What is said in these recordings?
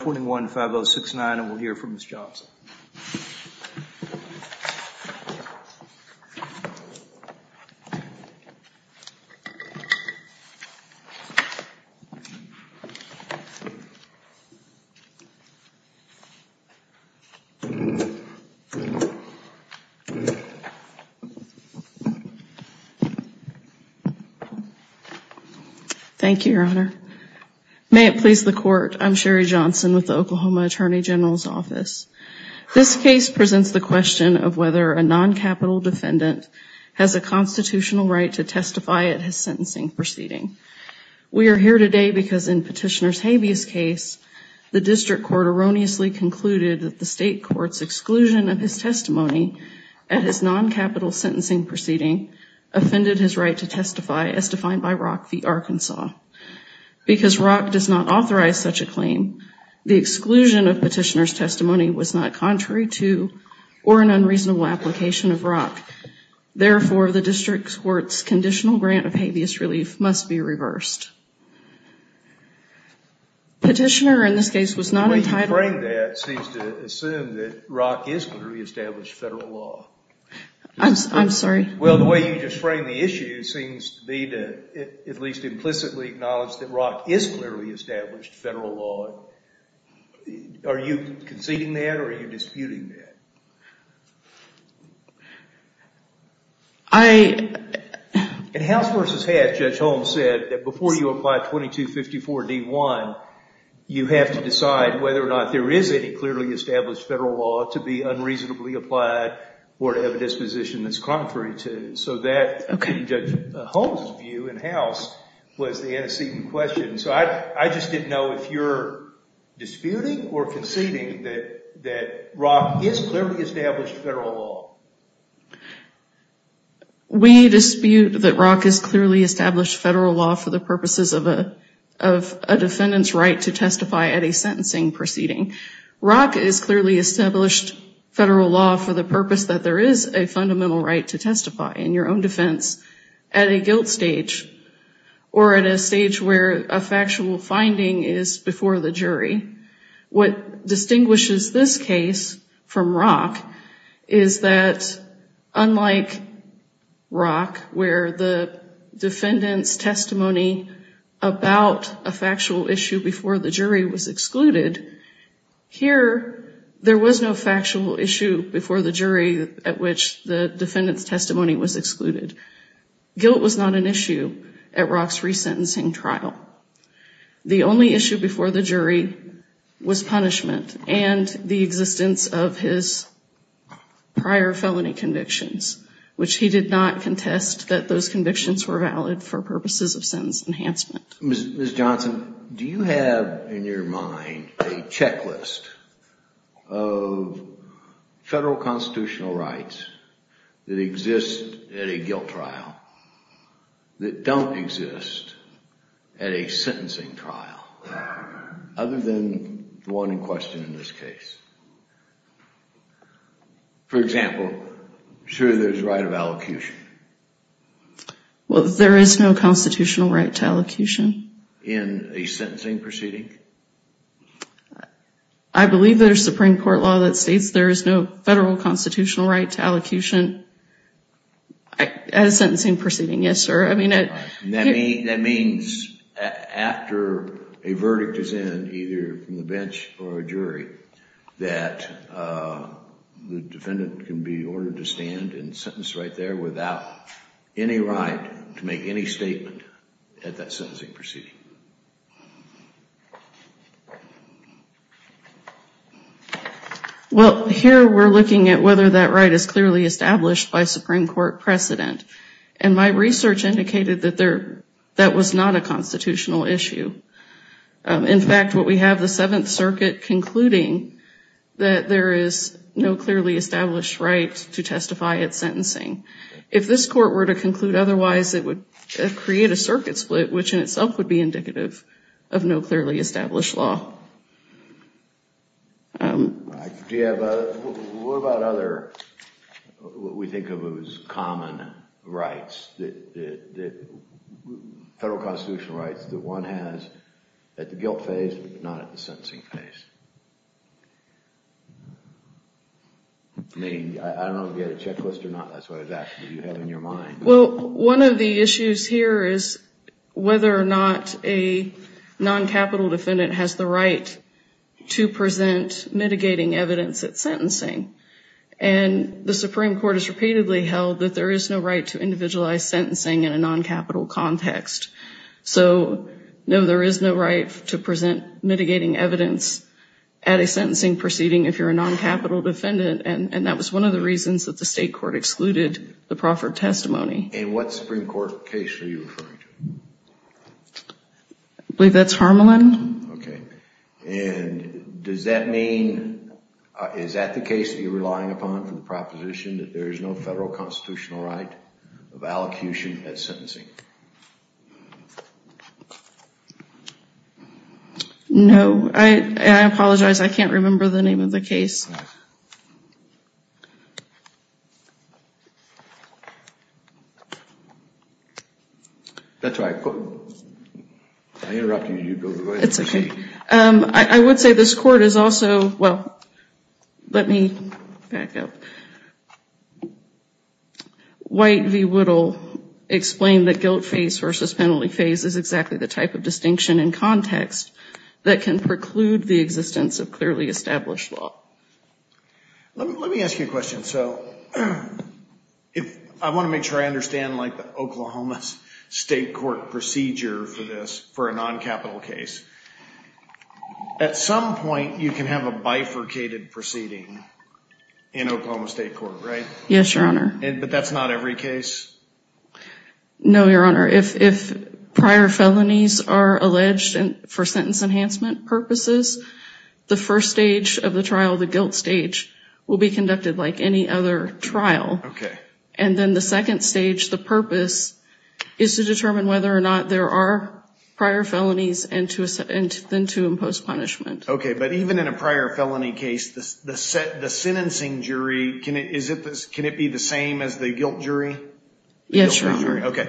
21 5 0 6 9 and we'll hear from Miss Johnson. Thank you, Your Honor. May it please the court. I'm Sherry Johnson with the Oklahoma Attorney General's office. This case presents the question of whether a non-capital defendant has a constitutional right to testify at his sentencing proceeding. We are here today because in Petitioner's habeas case, the district court erroneously concluded that the state court's exclusion of his testimony at his non-capital sentencing proceeding offended his right to testify as defined by Rock v. Arkansas. Because Rock does not authorize such a claim, the exclusion of Petitioner's testimony was not contrary to or an unreasonable application of Rock. Therefore, the district court's conditional grant of habeas relief must be reversed. Petitioner in this case was not entitled- The way you framed that seems to assume that Rock is going to reestablish federal law. I'm sorry. Well, the way you just framed the issue seems to be to at Rock is clearly established federal law. Are you conceding that or are you disputing that? I- In House v. Hatch, Judge Holmes said that before you apply 2254 D1, you have to decide whether or not there is any clearly established federal law to be unreasonably applied or to have a disposition that's contrary to. So that, in Judge Holmes' view in House, was the antecedent question. So I just didn't know if you're disputing or conceding that Rock is clearly established federal law. We dispute that Rock is clearly established federal law for the purposes of a defendant's right to testify at a sentencing proceeding. Rock is clearly established federal law for the purpose that there is a fundamental right to testify in your own defense at a guilt stage or at a stage where a factual finding is before the jury. What distinguishes this case from Rock is that unlike Rock where the defendant's testimony about a factual issue before the jury was excluded, here there was no factual issue before the jury at which the defendant's testimony was excluded. Guilt was not an issue at Rock's resentencing trial. The only issue before the jury was punishment and the existence of his prior felony convictions, which he did not contest that those convictions were valid for purposes of sentence enhancement. Ms. Johnson, do you have in your mind a checklist of federal constitutional rights that exist at a guilt trial that don't exist at a sentencing trial other than the one in question in this case? For example, I'm sure there's a right of allocution. Well, there is no constitutional right to allocution. In a sentencing proceeding? I believe there's Supreme Court law that states there is no federal constitutional right to allocution at a sentencing proceeding. Yes, sir. That means after a verdict is in either from the bench or a jury that the defendant can be ordered to stand and sentence right there without any right to make any statement at that sentencing proceeding. Well, here we're looking at whether that right is clearly established by Supreme Court precedent and my research indicated that there that was not a constitutional issue. In fact, what we have the Seventh Circuit concluding that there is no clearly established right to testify at sentencing. If this court were to conclude otherwise, it would create a circuit split, which in itself would be indicative of no clearly established law. Do you have a, what about other, what we think of as common rights that the federal constitutional rights that one has at the guilt phase, but not at the sentencing phase? I mean, I don't know if you have a checklist or not. That's what exactly you have in your mind. Well, one of the issues here is whether or not a non-capital defendant has the right to present mitigating evidence at sentencing and the Supreme Court has repeatedly held that there is no right to individualize sentencing in a non-capital context. So, no, there is no right to present mitigating evidence at a sentencing proceeding if you're a non-capital defendant and that was one of the reasons that the state court excluded the proffered testimony. In what Supreme Court case are you referring to? I believe that's Harmelin. Okay. And does that mean, is that the case that you're relying upon for the proposition that there is no federal constitutional right of allocution at sentencing? No, I apologize. I can't remember the name of the case. That's all right. I interrupted you. It's okay. I would say this court is also, well, let me back up. White v. Whittle explained that guilt phase versus penalty phase is exactly the type of distinction in context that can preclude the existence of clearly established law. Let me ask you a question. So, I want to make sure I understand like the Oklahoma State Court procedure for this, for a non-capital case. At some point you can have a bifurcated proceeding in Oklahoma State Court, right? Yes, Your Honor. But that's not every case? No, Your Honor. If prior felonies are alleged for sentence enhancement purposes, the first stage of the trial, the guilt stage, will be conducted like any other trial. And then the second stage, the purpose, is to determine whether or not there are prior felonies and to impose punishment. Okay, but even in a prior felony case, the sentencing jury, can it be the same as the guilt jury? Yes, Your Honor. Okay.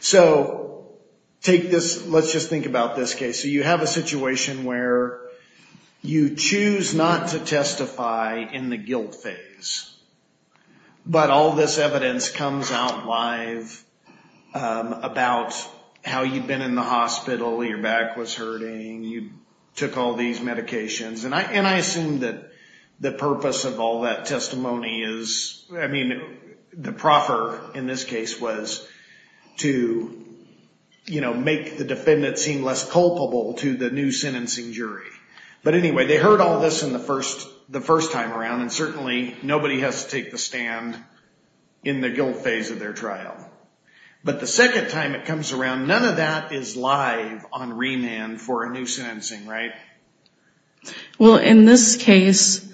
So, take this, let's just think about this case. So, you have a situation where you choose not to testify in the guilt phase, but all this evidence comes out live about how you've been in the hospital, your back was hurting, you took all these medications, and I assume that the purpose of all that testimony is, I mean, the proffer in this case was to, you know, make the defendant seem less culpable to the new sentencing jury. But anyway, they heard all this the first time around and certainly nobody has to take the stand in the guilt phase of their trial. But the second time it comes around, none of that is live on remand for a new sentencing, right? Well, in this case,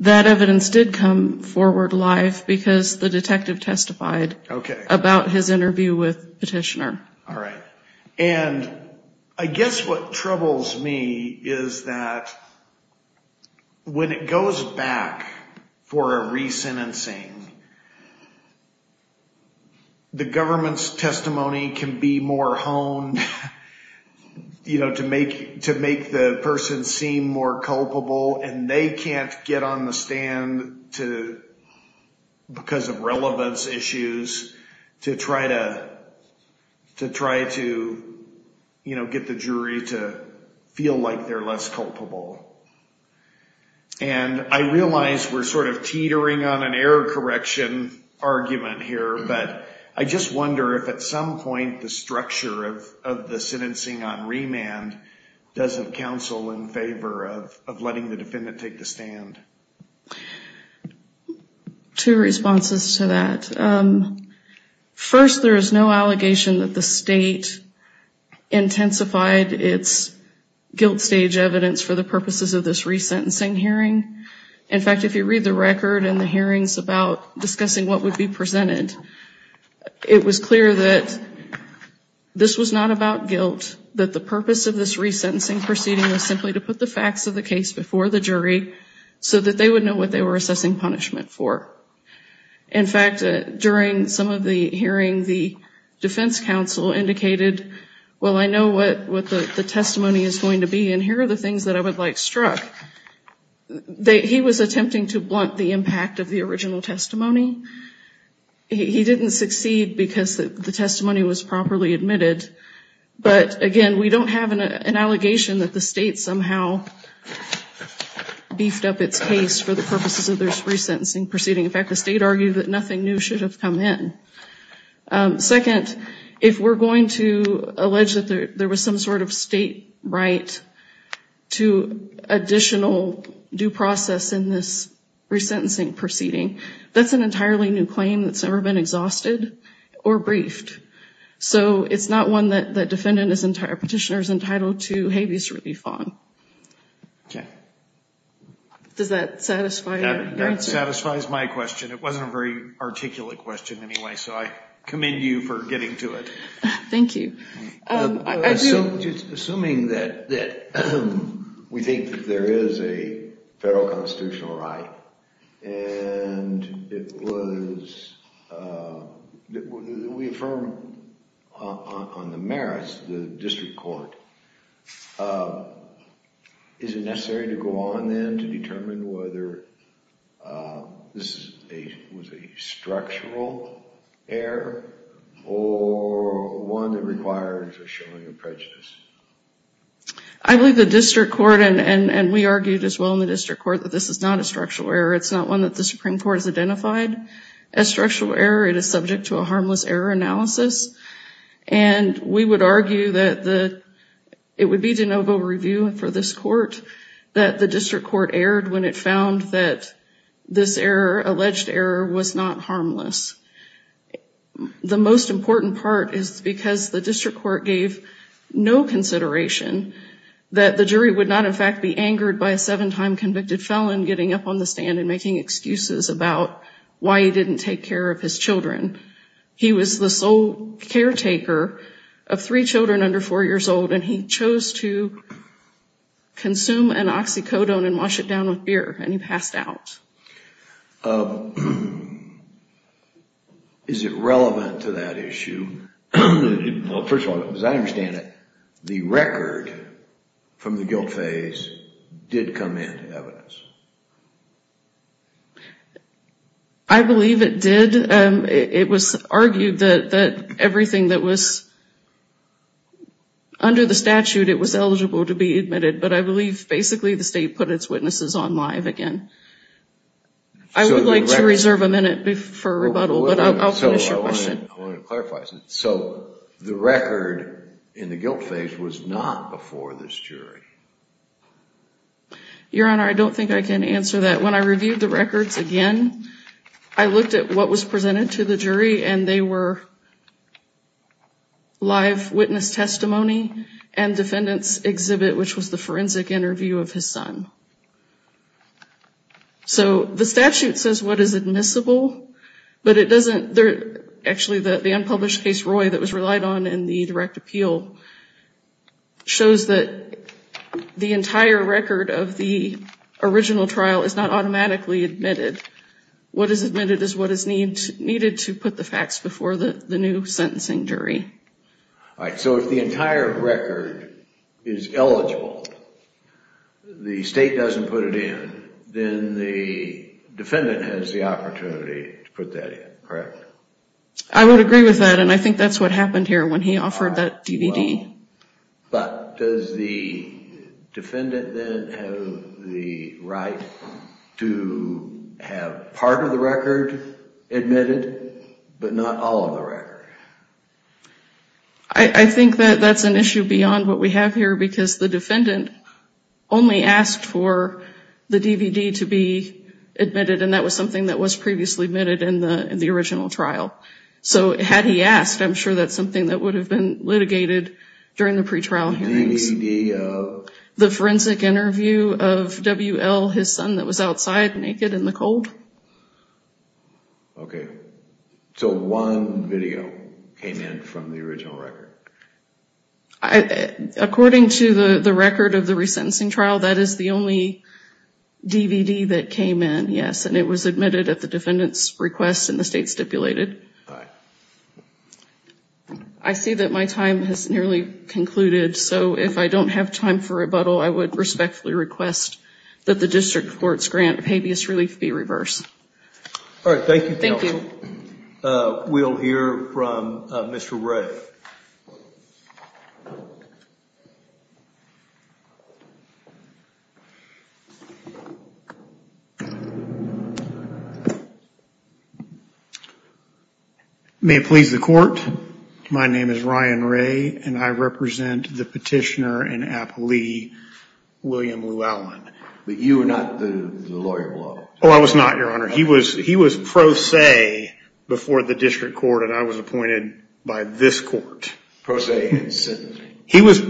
that evidence did come forward live because the jury heard about his interview with the petitioner. All right. And I guess what troubles me is that when it goes back for a re-sentencing, the government's testimony can be more honed, you know, to make the person seem more culpable and they can't get on the issues to try to, you know, get the jury to feel like they're less culpable. And I realize we're sort of teetering on an error correction argument here, but I just wonder if at some point the structure of the sentencing on remand does have counsel in favor of letting the defendant take the stand. Two responses to that. First, there is no allegation that the state intensified its guilt stage evidence for the purposes of this re-sentencing hearing. In fact, if you read the record and the hearings about discussing what would be presented, it was clear that this was not about guilt, that the purpose of this re-sentencing proceeding was simply to put the facts of the case before the jury so that they would know what they were assessing punishment for. In fact, during some of the hearings, the defense counsel indicated, well, I know what the testimony is going to be and here are the things that I would like struck. He was attempting to blunt the impact of the original testimony. He didn't succeed because the testimony was properly admitted. But again, we don't have an allegation that the state somehow beefed up its case for the purposes of this re-sentencing proceeding. In fact, the state argued that nothing new should have come in. Second, if we're going to allege that there was some sort of state right to additional due process in this re-sentencing proceeding, that's an entirely new claim that's never been exhausted or briefed. So it's not one that the defendant, the petitioner is entitled to habeas relief on. Okay. Does that satisfy your answer? That satisfies my question. It wasn't a very articulate question anyway, so I commend you for getting to it. Thank you. Assuming that we think there is a federal constitutional right and it was, we affirm on the merits, the district court, is it necessary to go on then to determine whether this was a structural error or one that requires a showing of prejudice? I believe the district court, and we argued as well in the district court, that this is not a structural error. It's not one that the Supreme Court has identified as structural error. It is subject to a harmless error analysis. And we would argue that it would be de novo review for this court that the district court erred when it found that this alleged error was not harmless. The most important part is because the district court gave no consideration that the jury would not in fact be angered by a seven-time convicted felon getting up on the stand and making excuses about why he was the sole caretaker of three children under four years old and he chose to consume an oxycodone and wash it down with beer and he passed out. Is it relevant to that issue? First of all, as I understand it, the record from the guilt phase did come in evidence. I believe it did. It was argued that everything that was under the statute, it was eligible to be admitted, but I believe basically the state put its witnesses on live again. I would like to reserve a minute for rebuttal, but I'll finish your question. I wanted to clarify something. So the record in the guilt phase was not before this jury? Your Honor, I don't think I can answer that. When I reviewed the records again, I looked at what was presented to the jury and they were live witness testimony and defendant's exhibit, which was the forensic interview of his son. So the statute says what is admissible, but it shows that the entire record of the original trial is not automatically admitted. What is admitted is what is needed to put the facts before the new sentencing jury. So if the entire record is eligible, the state doesn't put it in, then the defendant has the opportunity to put that in, correct? I would agree with that and I think that's what happened here when he offered that DVD. But does the defendant then have the right to have part of the record admitted, but not all of the record? I think that that's an issue beyond what we have here because the defendant only asked for the DVD to be admitted and that was something that was previously admitted in the original trial. So had he asked, I'm sure that's something that would have been litigated during the pretrial hearings. The forensic interview of W.L., his son that was outside naked in the cold. Okay, so one video came in from the original record? According to the record of the resentencing trial, that is the only defendant's request in the state stipulated. I see that my time has nearly concluded. So if I don't have time for rebuttal, I would respectfully request that the district court's grant of habeas relief be reversed. All right. Thank you. Thank you. We'll hear from Mr. Ray. May it please the court. My name is Ryan Ray and I represent the petitioner in Appalachia, William Lou Allen. But you are not the lawyer below? Oh, I was not, your honor. He was pro se before the district court and I was appointed by this court. Pro se? He was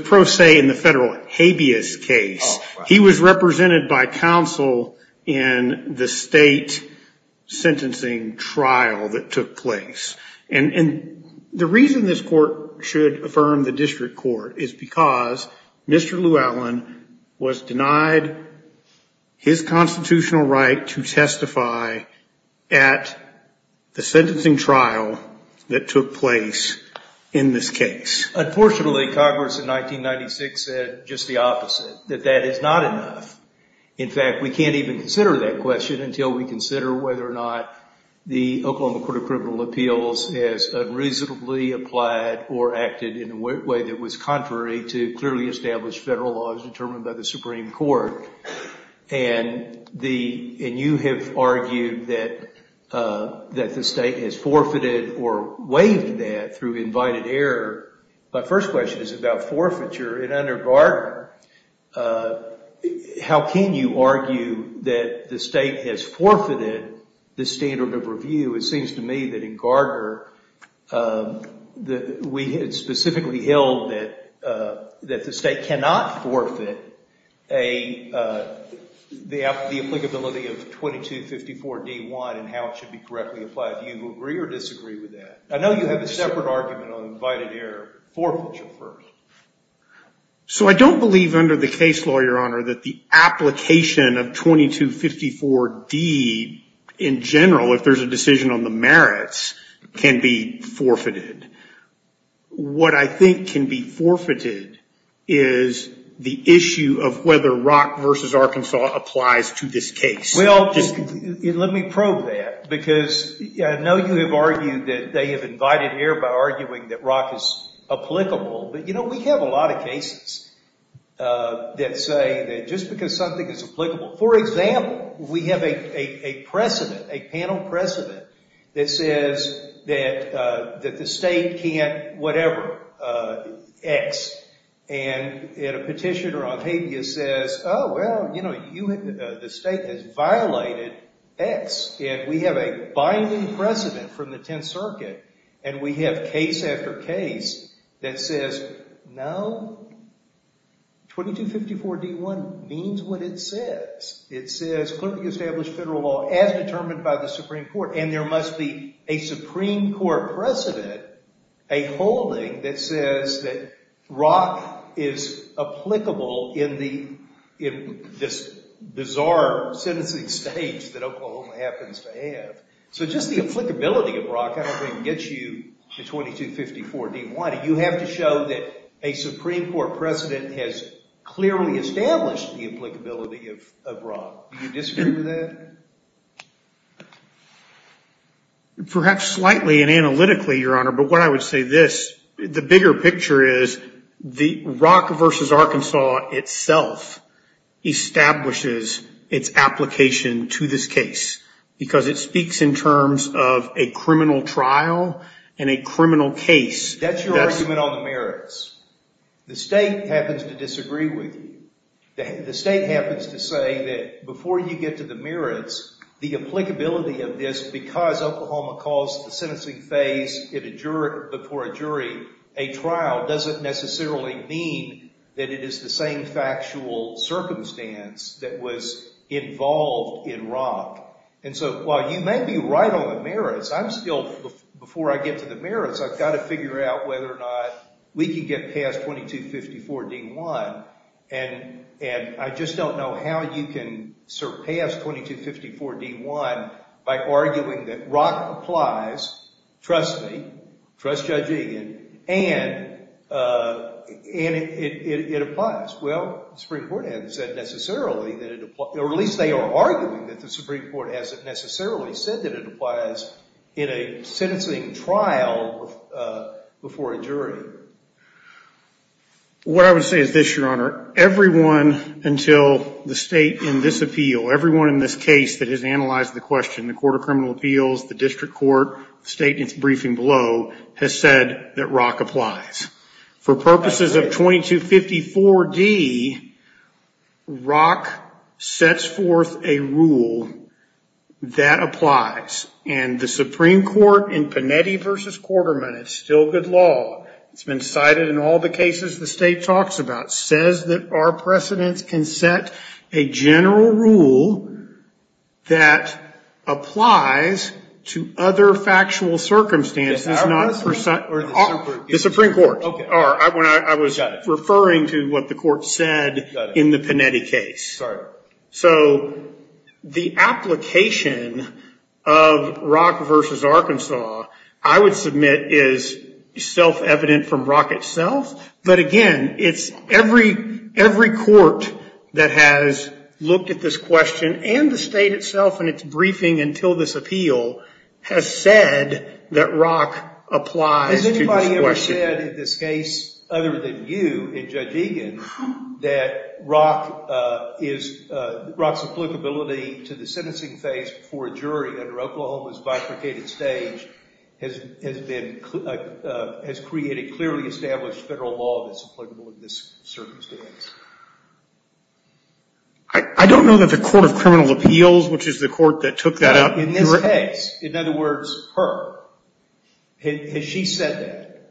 pro se in the federal habeas case. He was represented by counsel in the state sentencing trial that took place. And the reason this court should affirm the district court is because Mr. Lou Allen was denied his constitutional right to testify at the sentencing trial that took place in this case. Unfortunately, Congress in 1996 said just the opposite, that that is not enough. In fact, we can't even consider that question until we consider whether or not the Oklahoma Court of Criminal Appeals has unreasonably applied or acted in a way that was contrary to clearly established federal laws determined by the Supreme Court. And you have argued that the state has forfeited or waived that through invited error. My first question is about forfeiture. And under Gardner, how can you argue that the state has forfeited the standard of review? It seems to me that in Gardner that we had specifically held that the state cannot forfeit the applicability of 2254 D1 and how it should be correctly applied. Do you agree or disagree with that? I know you have a separate argument on invited error. Forfeiture first. So I don't believe under the case law, Your Honor, that the application of 2254 D in general, if there's a decision on the merits, can be forfeited. What I think can be forfeited is the issue of whether Rock v. Arkansas applies to this case. Well, let me probe that. Because I know you have argued that they have invited error by arguing that Rock is applicable. But, you know, we have a lot of cases that say that just because something is applicable. For example, we have a precedent, a panel precedent, that says that the state can't whatever, X. And a petitioner on habeas says, oh, well, you know, the state has violated X. And we have a binding precedent from the Tenth Circuit. And we have case after case that says, no, 2254 D1 means what it says. It says, clearly established federal law as determined by the Supreme Court. And there must be a Supreme Court precedent, a holding that says that Rock is applicable in this bizarre sentencing stage that Oklahoma happens to have. So just the applicability of Rock, I don't think, gets you the 2254 D1. You have to show that a Supreme Court precedent has clearly established the applicability of Rock. Do you disagree with that? Perhaps slightly and analytically, Your Honor, but what I would say this, the bigger picture is the Rock versus Arkansas itself establishes its application to this case because it speaks in terms of a criminal trial and a criminal case. That's your argument on the merits. The state happens to disagree with you. The state happens to say that before you get to the merits, the applicability of this, because Oklahoma caused the sentencing phase before a jury, a trial doesn't necessarily mean that it is the same factual circumstance that was involved in Rock. And so while you may be right on the merits, I'm still, before I get to the merits, I've got to figure out whether or not we can get past 2254 D1. And I just don't know how you can surpass 2254 D1 by arguing that Rock applies, trust me, trust Judge Egan, and it applies. Well, the Supreme Court hasn't said necessarily that it applies, or at least they are arguing that the Supreme Court hasn't necessarily said that it applies in a sentencing trial before a jury. What I would say is this, Your Honor, everyone until the state in this appeal, everyone in this case that has analyzed the question, the Court of Criminal Appeals, the district court, the state in its briefing below, has said that Rock applies. For purposes of 2254 D, Rock sets forth a rule that applies. And the Supreme Court in all the cases the state talks about, says that our precedents can set a general rule that applies to other factual circumstances, not the Supreme Court. I was referring to what the court said in the Panetti case. So the application of Rock v. Arkansas, I would admit, is self-evident from Rock itself. But again, it's every court that has looked at this question and the state itself in its briefing until this appeal has said that Rock applies to this question. Has anybody ever said in this case, other than you and Judge Egan, that Rock's applicability to the sentencing phase for a jury under Oklahoma's bifurcated stage has created clearly established federal law that's applicable in this circumstance? I don't know that the Court of Criminal Appeals, which is the court that took that out. In this case, in other words, her, has she said that?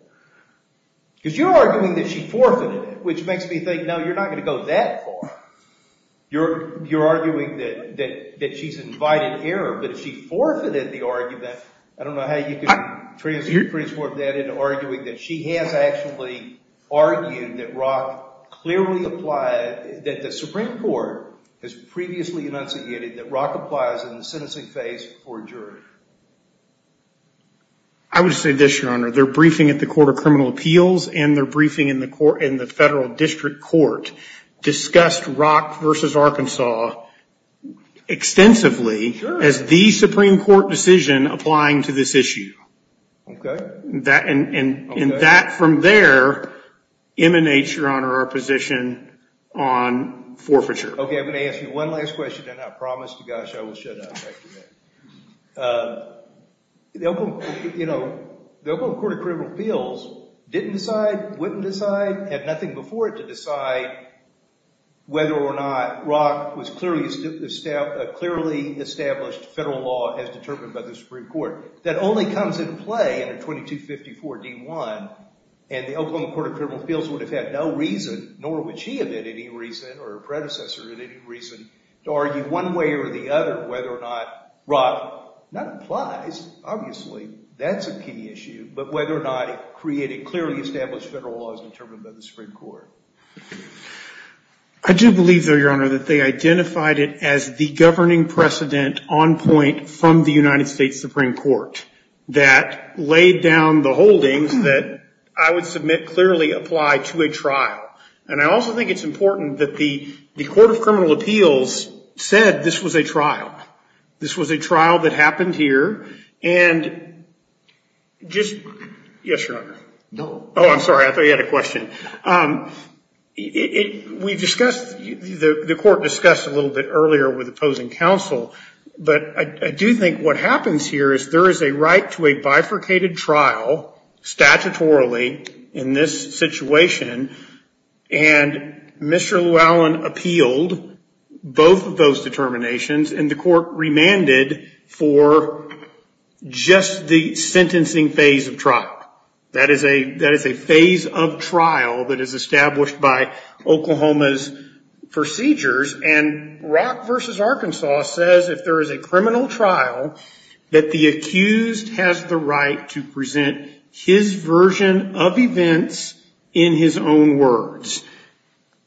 Because you're arguing that she forfeited it, which makes me think, no, you're not going to go that far. You're making an error. But if she forfeited the argument, I don't know how you can transform that into arguing that she has actually argued that Rock clearly applies, that the Supreme Court has previously enunciated that Rock applies in the sentencing phase for a jury. I would say this, Your Honor. Their briefing at the Court of Criminal Appeals and their briefing in the federal district court discussed Rock versus Arkansas extensively as the Supreme Court decision applying to this issue. And that from there emanates, Your Honor, our position on forfeiture. Okay, I'm going to ask you one last question, and I promise to gosh, I will shut up. The Oklahoma Court of Criminal Appeals didn't decide, wouldn't decide, had nothing before it to decide whether or not Rock was clearly established federal law as determined by the Supreme Court. That only comes into play in a 2254-D1, and the Oklahoma Court of Criminal Appeals would have had no reason, nor would she have had any reason or her predecessor had any reason to argue one way or the other whether or not Rock, not applies, obviously, that's a key issue, but whether or not it created clearly established federal law as determined by the Supreme Court. I do believe, though, Your Honor, that they identified it as the governing precedent on point from the United States Supreme Court that laid down the holdings that I would submit clearly apply to a trial. And I also think it's important that the Court of Criminal Appeals said this was a trial. This was a trial that happened here. And just, yes, Your Honor. No. Oh, I'm sorry. I thought you had a question. We've discussed, the court discussed a little bit earlier with opposing counsel, but I do think what happens here is there is a right to a bifurcated trial statutorily in this situation, and Mr. Llewellyn appealed both of those determinations, and the court remanded for just the sentencing phase of trial. That is a phase of trial that is established by Oklahoma's procedures, and Rock v. Arkansas says if there is a criminal trial that the accused has the right to present his version of events in his own words.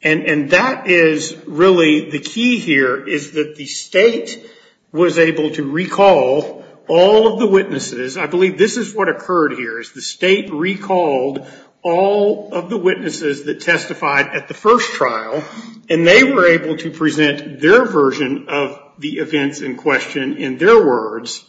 And that is really the key here is that the state was able to recall all of the witnesses. I believe this is what occurred here is the state recalled all of the witnesses that testified at the first trial, and they were able to present their version of the events in question in their words.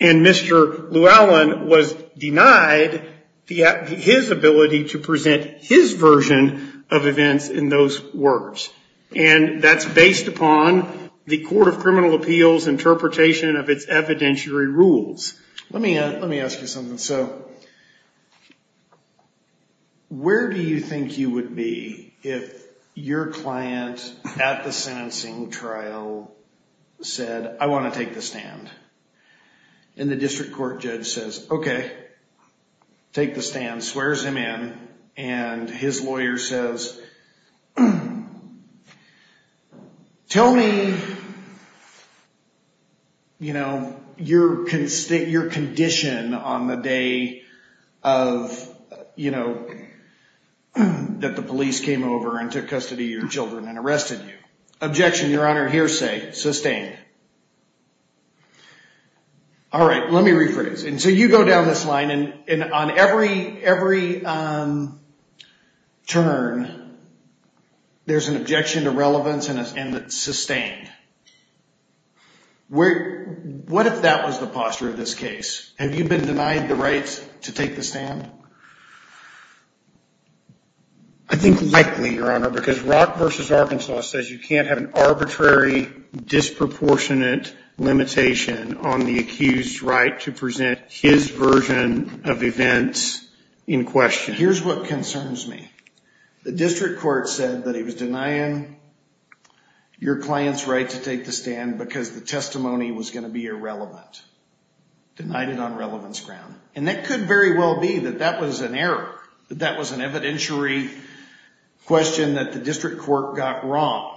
And Mr. Llewellyn was denied his ability to present his version of events in those words. And that's based upon the Court of Criminal Appeals interpretation of its evidentiary rules. Let me ask you something. So where do you think you would be if your client at the sentencing trial said, I want to take the stand? And the district court judge says, okay, take the stand, swears him in, and his lawyer says, tell me, you know, your condition on the day of, you know, that the police came over and took custody of your children and arrested you. Objection, your honor, hearsay, sustained. All right, let me rephrase. And so you go down this line and on every turn, there's an objection to relevance and it's sustained. What if that was the posture of this case? Have you been denied the rights to take the stand? I think likely, your honor, because Rock v. Arkansas says you can't have an arbitrary disproportionate limitation on the accused's right to present his version of events in question. Here's what concerns me. The district court said that he was denying your client's right to take the stand because the testimony was going to be irrelevant. Denied it on relevance ground. And that could very well be that that was an error, that that was an evidentiary question that the district court got wrong.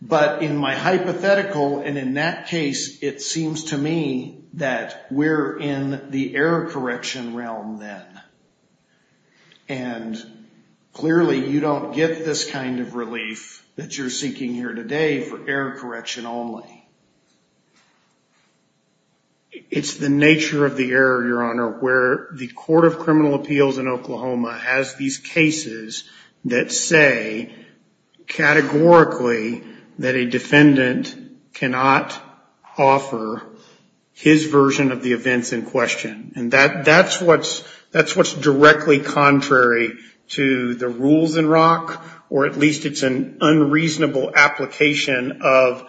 But in my hypothetical and in that case, it seems to me that we're in the error correction realm then. And clearly you don't get this kind of relief that you're seeking here today for error correction only. It's the nature of the error, your honor, where the Court of Criminal Appeals in Oklahoma has these cases that say categorically that a defendant cannot offer his version of the events in question. And that's what's directly contrary to the rules in Rock, or at least it's an unreasonable application of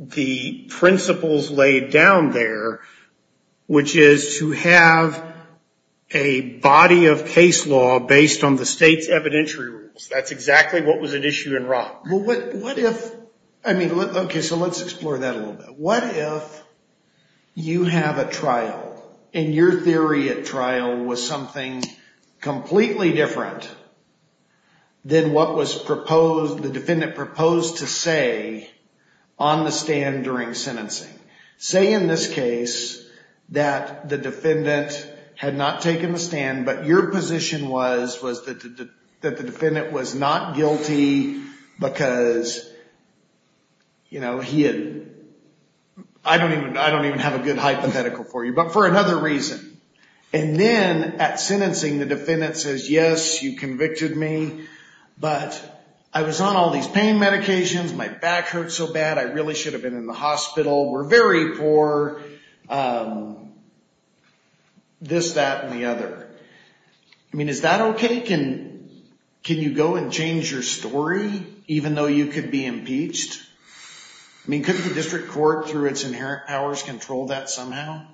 the principles laid down there, which is to have a body of case law based on the state's evidentiary rules. That's exactly what was at issue in Rock. Well, what if, I mean, okay, so let's explore that a little bit. What if you have a trial and your theory at trial was something completely different than what was proposed, the defendant proposed to say on the stand during sentencing? Say in this case that the defendant had not taken the stand, but your position was, was that the defendant was not guilty because, you know, he had, I don't even, I don't even have a good hypothetical for you, but for another reason. And then at sentencing, the defendant says, yes, you convicted me, but I was on all these pain medications. My back hurts so bad. I really should have been in the hospital. We're very poor, this, that, and the other. I mean, is that okay? Can, can you go and change your story, even though you could be impeached? I mean, couldn't the district court through its inherent powers control that somehow?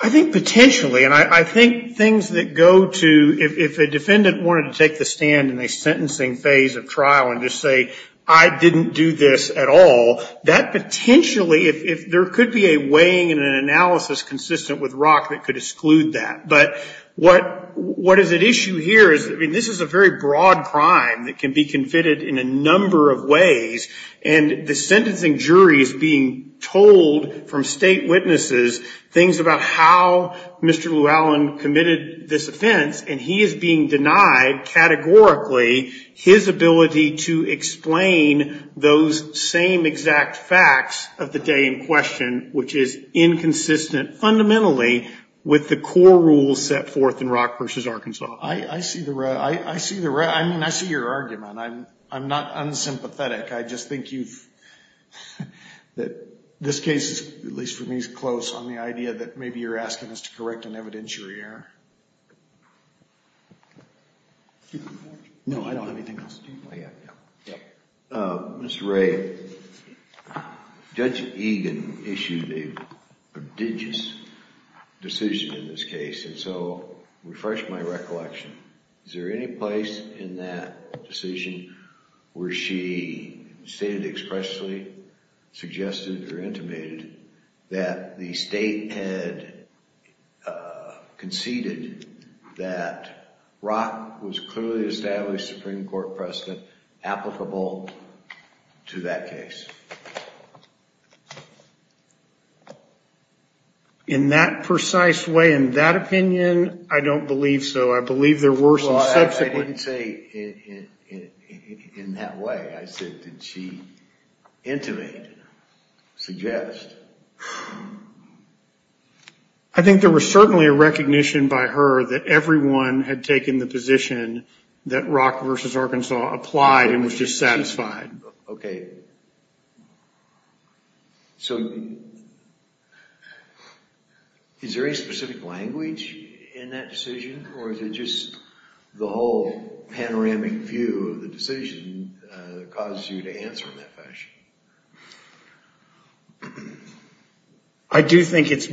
I think potentially, and I think things that go to, if a defendant wanted to take the stand in a sentencing phase of trial and just say, I didn't do this at all, that potentially, if there could be a weighing and an analysis consistent with ROC that could exclude that. But what, what is at issue here is, I mean, this is a very broad crime that can be convicted in a number of ways, and the sentencing jury is being told from state witnesses things about how Mr. Llewellyn committed this offense. And he is being denied categorically his ability to explain those same exact facts of the day in question, which is inconsistent fundamentally with the core rules set forth in ROC versus Arkansas. I see the, I see the, I mean, I see your argument. I'm, I'm not unsympathetic. I just think you've, that this case is, at least for me, is close on the idea that maybe you're asking us to correct an evidentiary error. No, I don't have anything else. Mr. Ray, Judge Egan issued a prodigious decision in this case. And so, refresh my recollection. Is there any place in that decision where she stated expressly, suggested, or intimated that the state had conceded that ROC was clearly established Supreme Court precedent applicable to that case? In that precise way, in that opinion, I don't believe so. I believe there were some subsequent... Well, I didn't say in that way. I said, did she intimate, suggest? I think there was certainly a recognition by her that everyone had taken the position that ROC versus Arkansas applied and was just satisfied. Okay. So, is there any specific language in that decision, or is it just the whole panoramic view of the decision that causes you to answer in that fashion? I do think it's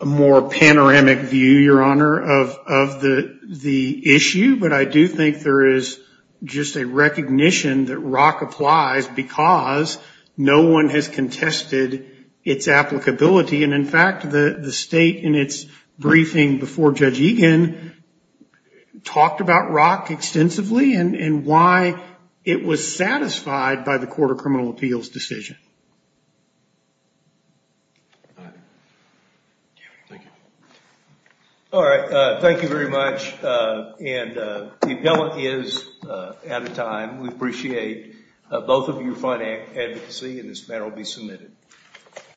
a more panoramic view, Your Honor, of the issue. But I do think there is just a recognition that ROC applies. Because no one has contested its applicability. And in fact, the state in its briefing before Judge Egan talked about ROC extensively and why it was satisfied by the Court of Criminal Appeals decision. All right. Thank you very much. And the appellant is out of time. We appreciate both of your fine advocacy, and this matter will be submitted.